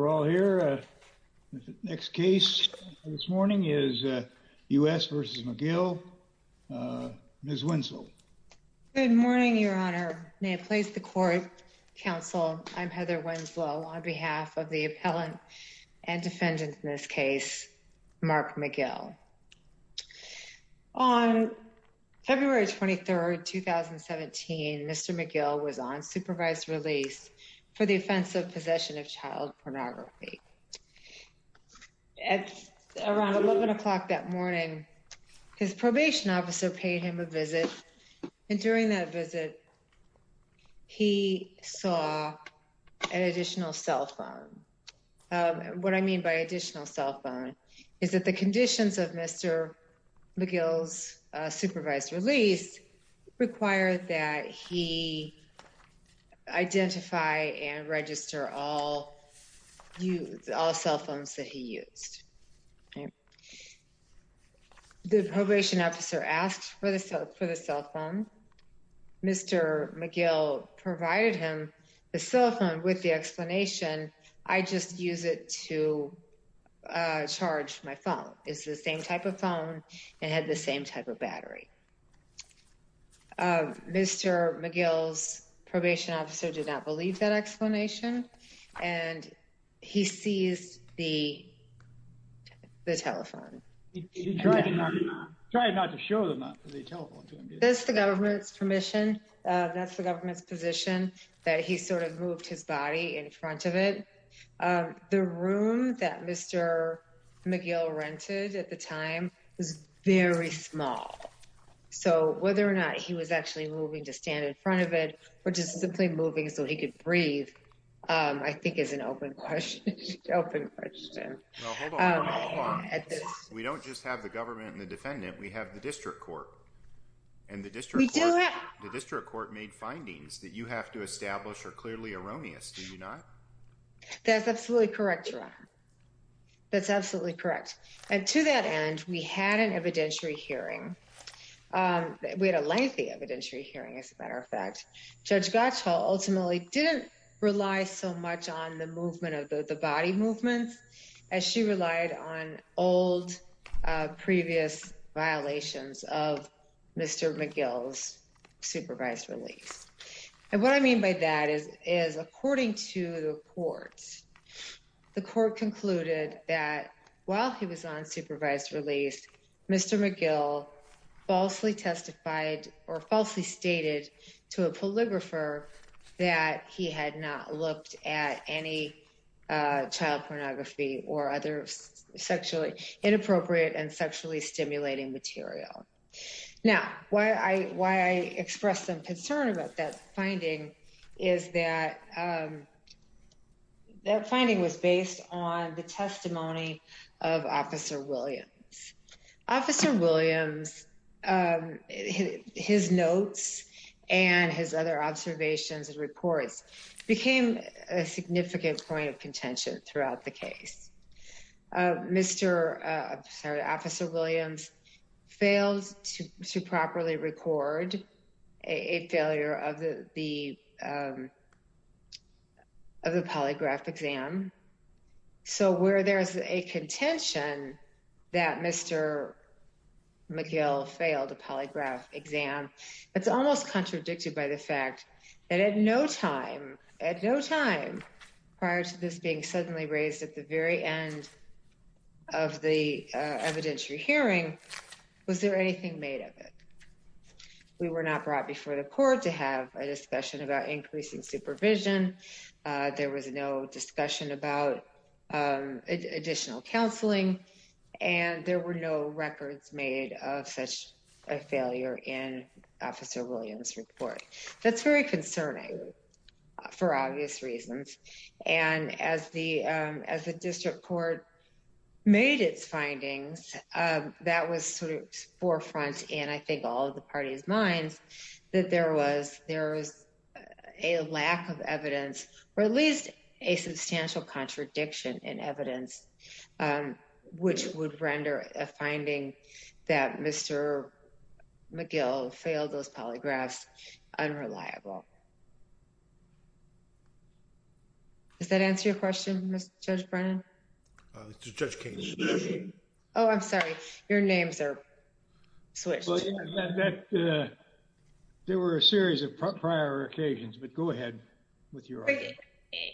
We're all here. The next case this morning is U.S. v. McGill. Ms. Winslow. Good morning, Your Honor. May it please the Court, Counsel, I'm Heather Winslow on behalf of the appellant and defendant in this case, Mark McGill. On February 23rd, 2017, Mr. McGill was on supervised release for the offense of possession of child pornography. At around 11 o'clock that morning, his probation officer paid him a visit. And during that visit, he saw an additional cell phone. What I mean by additional cell phone is that the conditions of Mr. McGill's supervised release require that he identify and register all cell phones that he used. The probation officer asked for the cell phone. Mr. McGill provided him the cell phone with the explanation, I just use it to charge my phone. It's the same type of phone. It had the same type of battery. Mr. McGill's probation officer did not believe that explanation, and he seized the telephone. He tried not to show the telephone to him. That's the government's permission. That's the government's position that he sort of moved his body in front of it. The room that Mr. McGill rented at the time was very small. So whether or not he was actually moving to stand in front of it, or just simply moving so he could breathe, I think is an open question. We don't just have the government and the defendant, we have the district court. And the district court made findings that you have to establish are clearly erroneous, do you not? That's absolutely correct, Ron. That's absolutely correct. And to that end, we had an evidentiary hearing. We had a lengthy evidentiary hearing, as a matter of fact. Judge Gottschall ultimately didn't rely so much on the movement of the body movements as she relied on old previous violations of Mr. McGill's supervised release. And what I mean by that is, according to the court, the court concluded that while he was on supervised release, Mr. McGill falsely testified or falsely stated to a polygrapher that he had not looked at any child pornography or other sexually inappropriate and sexually stimulating material. Now, why I express some concern about that finding is that that finding was based on the testimony of Officer Williams. Officer Williams, his notes and his other observations and reports became a significant point of contention throughout the case. Officer Williams failed to properly record a failure of the polygraph exam. So where there is a contention that Mr. McGill failed a polygraph exam, it's almost contradicted by the fact that at no time, at no time prior to this being suddenly raised at the very end of the evidentiary hearing, was there anything made of it? We were not brought before the court to have a discussion about increasing supervision. There was no discussion about additional counseling, and there were no records made of such a failure in Officer Williams report. That's very concerning for obvious reasons. And as the district court made its findings, that was sort of forefront in, I think, all of the party's minds that there was a lack of evidence, or at least a substantial contradiction in evidence, which would render a finding that Mr. McGill failed those polygraphs unreliable. Does that answer your question, Mr. Judge Brennan? Judge Kagan. Oh, I'm sorry. Your names are switched. There were a series of prior occasions, but go ahead with your argument.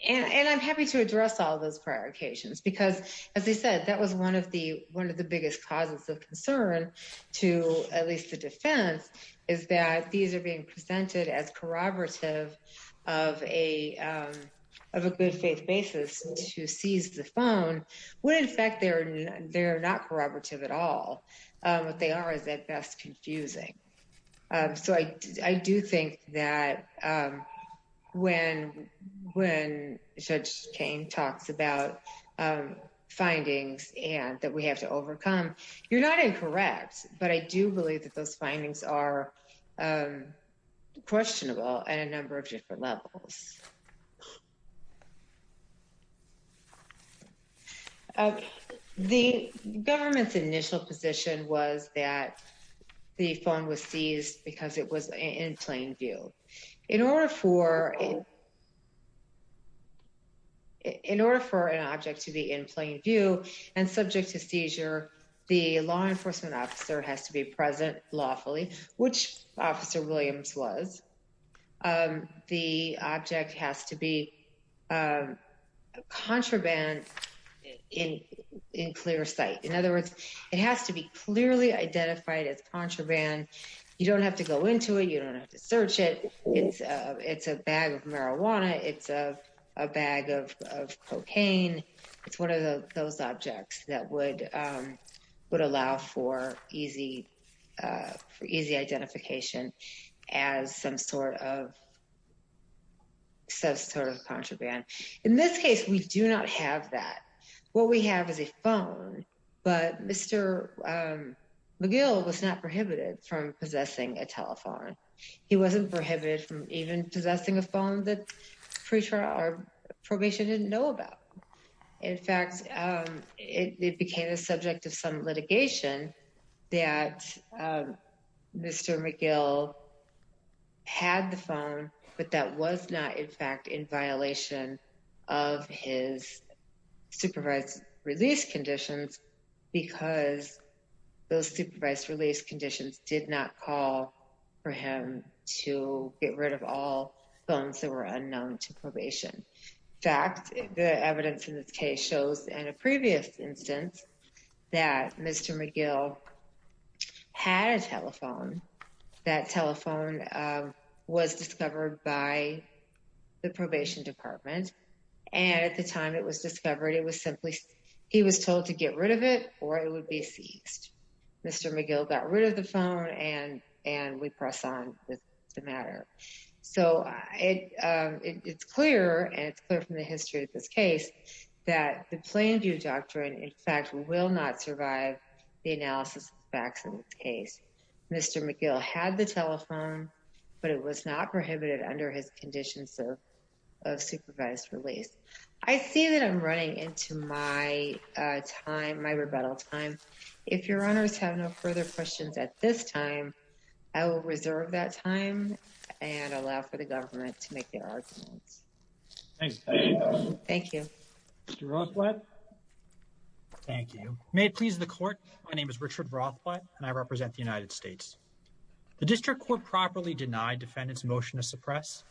And I'm happy to address all those prior occasions because, as I said, that was one of the biggest causes of concern to at least the defense, is that these are being presented as corroborative of a good faith basis to seize the phone, when in fact they're not corroborative at all. What they are is at best confusing. So I do think that when Judge Kane talks about findings and that we have to overcome, you're not incorrect, but I do believe that those findings are questionable at a number of different levels. The government's initial position was that the phone was seized because it was in plain view. In order for an object to be in plain view and subject to seizure, the law enforcement officer has to be present lawfully, which Officer Williams was. The object has to be contraband in clear sight. In other words, it has to be clearly identified as contraband. You don't have to go into it. You don't have to search it. It's a bag of marijuana. It's a bag of cocaine. It's one of those objects that would allow for easy identification as some sort of contraband. In this case, we do not have that. What we have is a phone, but Mr. McGill was not prohibited from possessing a telephone. He wasn't prohibited from even possessing a phone that probation didn't know about. In fact, it became the subject of some litigation that Mr. McGill had the phone, but that was not, in fact, in violation of his supervised release conditions because those supervised release conditions did not call for him to get rid of all phones that were unknown to probation. In fact, the evidence in this case shows in a previous instance that Mr. McGill had a telephone. That telephone was discovered by the probation department, and at the time it was discovered, he was told to get rid of it or it would be seized. Mr. McGill got rid of the phone, and we press on with the matter. So it's clear, and it's clear from the history of this case, that the Planned Puberty Doctrine, in fact, will not survive the analysis of facts in this case. Mr. McGill had the telephone, but it was not prohibited under his conditions of supervised release. I see that I'm running into my time, my rebuttal time. If your honors have no further questions at this time, I will reserve that time and allow for the government to make their arguments. Thank you. Mr. Rothblatt? Thank you. May it please the court. My name is Richard Rothblatt, and I represent the United States. The district court properly denied defendant's motion to suppress.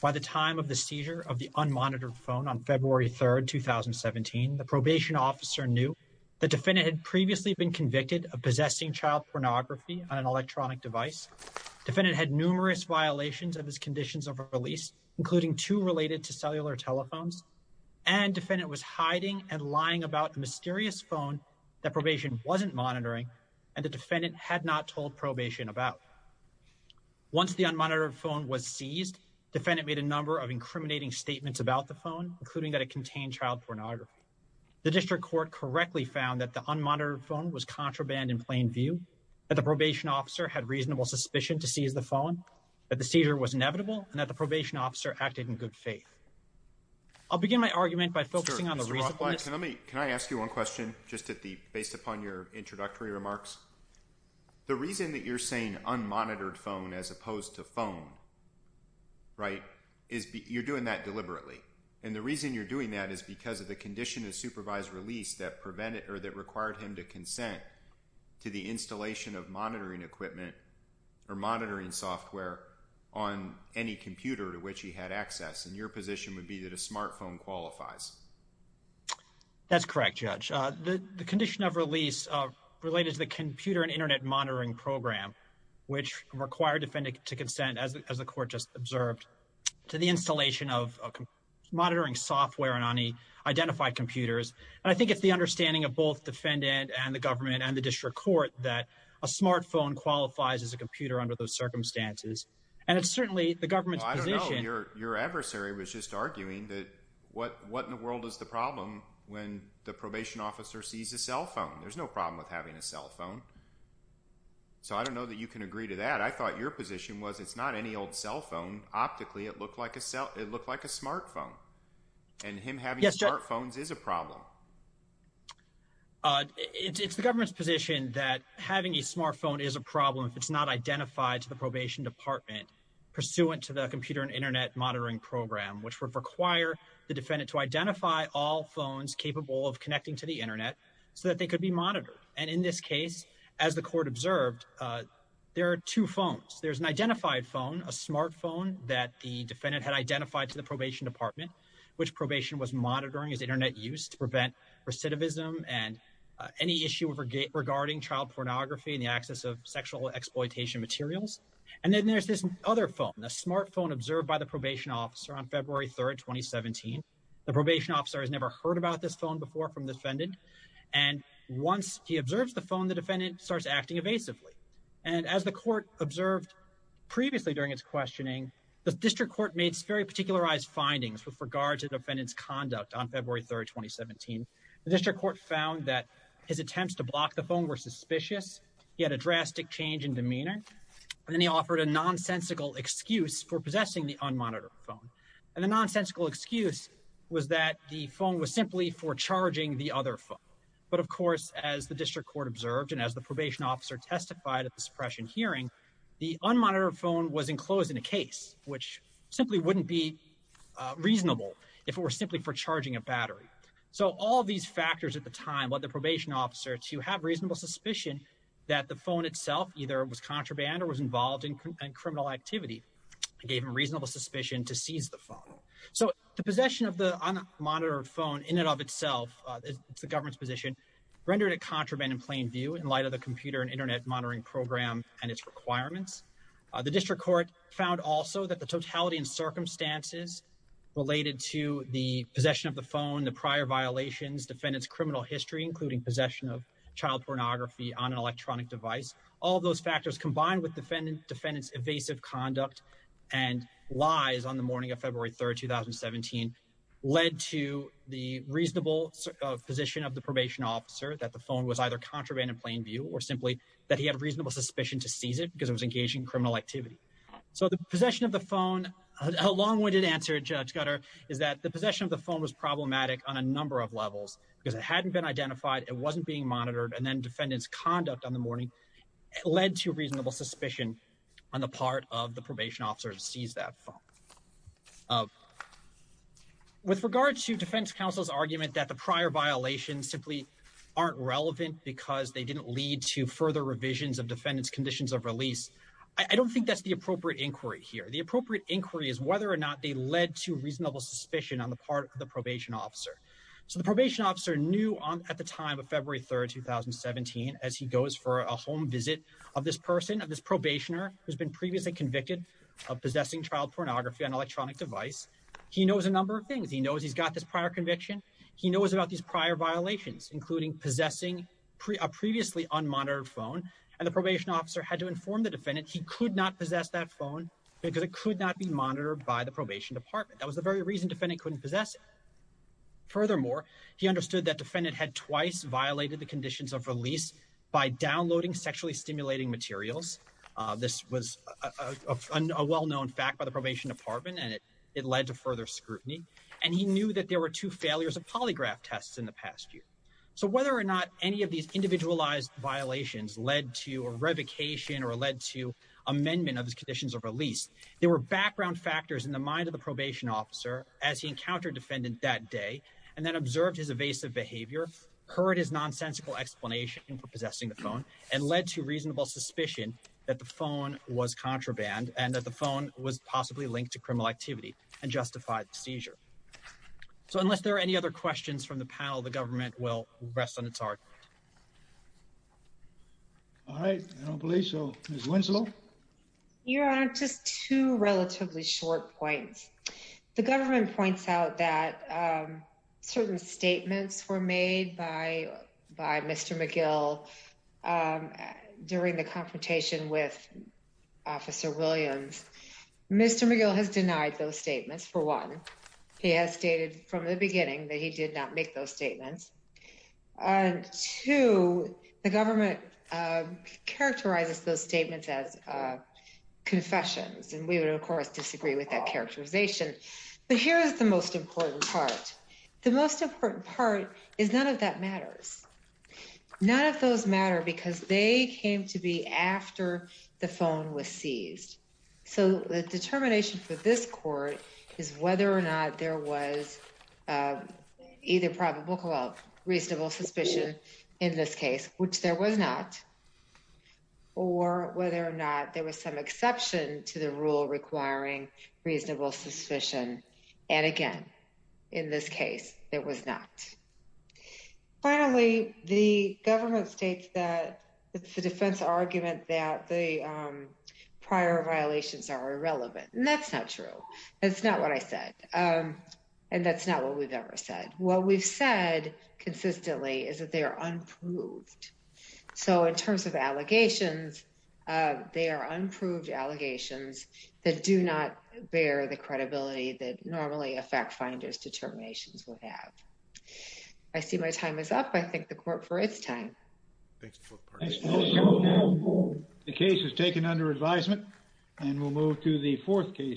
By the time of the seizure of the unmonitored phone on February 3rd, 2017, the probation officer knew the defendant had previously been convicted of possessing child pornography on an electronic device. Defendant had numerous violations of his conditions of release, including two related to cellular telephones, and defendant was hiding and lying about a mysterious phone that probation wasn't monitoring, and the defendant had not told probation about. Once the unmonitored phone was seized, defendant made a number of incriminating statements about the phone, including that it contained child pornography. The district court correctly found that the unmonitored phone was contraband in plain view, that the probation officer had reasonable suspicion to seize the phone, that the seizure was inevitable, and that the probation officer acted in good faith. I'll begin my argument by focusing on the reason for this. Mr. Rothblatt, can I ask you one question, just based upon your introductory remarks? The reason that you're saying unmonitored phone as opposed to phone, right, is you're doing that deliberately. And the reason you're doing that is because of the condition of supervised release that prevented or that required him to consent to the installation of monitoring equipment or monitoring software on any computer to which he had access. And your position would be that a smartphone qualifies. That's correct, Judge. The condition of release related to the computer and Internet monitoring program, which required defendant to consent, as the court just observed, to the installation of monitoring software on any identified computers. And I think it's the understanding of both defendant and the government and the district court that a smartphone qualifies as a computer under those circumstances. And it's certainly the government's position. No, your adversary was just arguing that what in the world is the problem when the probation officer sees a cell phone? There's no problem with having a cell phone. So I don't know that you can agree to that. I thought your position was it's not any old cell phone. Optically, it looked like a smartphone. And him having smartphones is a problem. It's the government's position that having a smartphone is a problem. If it's not identified to the probation department pursuant to the computer and Internet monitoring program, which would require the defendant to identify all phones capable of connecting to the Internet so that they could be monitored. And in this case, as the court observed, there are two phones. There's an identified phone, a smartphone that the defendant had identified to the probation department, which probation was monitoring his Internet use to prevent recidivism and any issue regarding child pornography and the access of sexual exploitation materials. And then there's this other phone, a smartphone observed by the probation officer on February 3rd, 2017. The probation officer has never heard about this phone before from defendant. And once he observes the phone, the defendant starts acting evasively. And as the court observed previously during its questioning, the district court made very particularized findings with regard to defendant's conduct on February 3rd, 2017. The district court found that his attempts to block the phone were suspicious. He had a drastic change in demeanor. And then he offered a nonsensical excuse for possessing the unmonitored phone. And the nonsensical excuse was that the phone was simply for charging the other phone. But, of course, as the district court observed and as the probation officer testified at the suppression hearing, the unmonitored phone was enclosed in a case, which simply wouldn't be reasonable if it were simply for charging a battery. So all these factors at the time led the probation officer to have reasonable suspicion that the phone itself either was contraband or was involved in criminal activity. It gave him reasonable suspicion to seize the phone. So the possession of the unmonitored phone in and of itself, it's the government's position, rendered it contraband in plain view in light of the computer and Internet monitoring program and its requirements. The district court found also that the totality and circumstances related to the possession of the phone, the prior violations, defendant's criminal history, including possession of child pornography on an electronic device. All those factors combined with defendant's evasive conduct and lies on the morning of February 3rd, 2017, led to the reasonable position of the probation officer that the phone was either contraband in plain view or simply that he had reasonable suspicion to seize it because it was engaging in criminal activity. So the possession of the phone, a long-winded answer, Judge Gutter, is that the possession of the phone was problematic on a number of levels because it hadn't been identified, it wasn't being monitored, and then defendant's conduct on the morning led to reasonable suspicion on the part of the probation officer to seize that phone. With regard to defense counsel's argument that the prior violations simply aren't relevant because they didn't lead to further revisions of defendant's conditions of release, I don't think that's the appropriate inquiry here. The appropriate inquiry is whether or not they led to reasonable suspicion on the part of the probation officer. So the probation officer knew at the time of February 3rd, 2017, as he goes for a home visit of this person, of this probationer who's been previously convicted of possessing child pornography on an electronic device, he knows a number of things. He knows he's got this prior conviction, he knows about these prior violations, including possessing a previously unmonitored phone, and the probation officer had to inform the defendant he could not possess that phone because it could not be monitored by the probation department. That was the very reason defendant couldn't possess it. Furthermore, he understood that defendant had twice violated the conditions of release by downloading sexually stimulating materials. This was a well-known fact by the probation department, and it led to further scrutiny. And he knew that there were two failures of polygraph tests in the past year. So whether or not any of these individualized violations led to a revocation or led to amendment of his conditions of release, there were background factors in the mind of the probation officer as he encountered defendant that day and then observed his evasive behavior, heard his nonsensical explanation for possessing the phone, and led to reasonable suspicion that the phone was contraband and that the phone was possibly linked to criminal activity and justified the seizure. So unless there are any other questions from the panel, the government will rest on its heart. All right, I don't believe so. Ms. Winslow? Your Honor, just two relatively short points. The government points out that certain statements were made by Mr. McGill during the confrontation with Officer Williams. Mr. McGill has denied those statements, for one. He has stated from the beginning that he did not make those statements. And two, the government characterizes those statements as confessions, and we would, of course, disagree with that characterization. But here is the most important part. The most important part is none of that matters. None of those matter because they came to be after the phone was seized. So the determination for this court is whether or not there was either probable, well, reasonable suspicion in this case, which there was not, or whether or not there was some exception to the rule requiring reasonable suspicion. And again, in this case, there was not. Finally, the government states that it's a defense argument that the prior violations are irrelevant, and that's not true. That's not what I said, and that's not what we've ever said. What we've said consistently is that they are unproved. So in terms of allegations, they are unproved allegations that do not bear the credibility that normally a fact finder's determinations would have. I see my time is up. I thank the court for its time. The case is taken under advisement, and we'll move to the fourth case.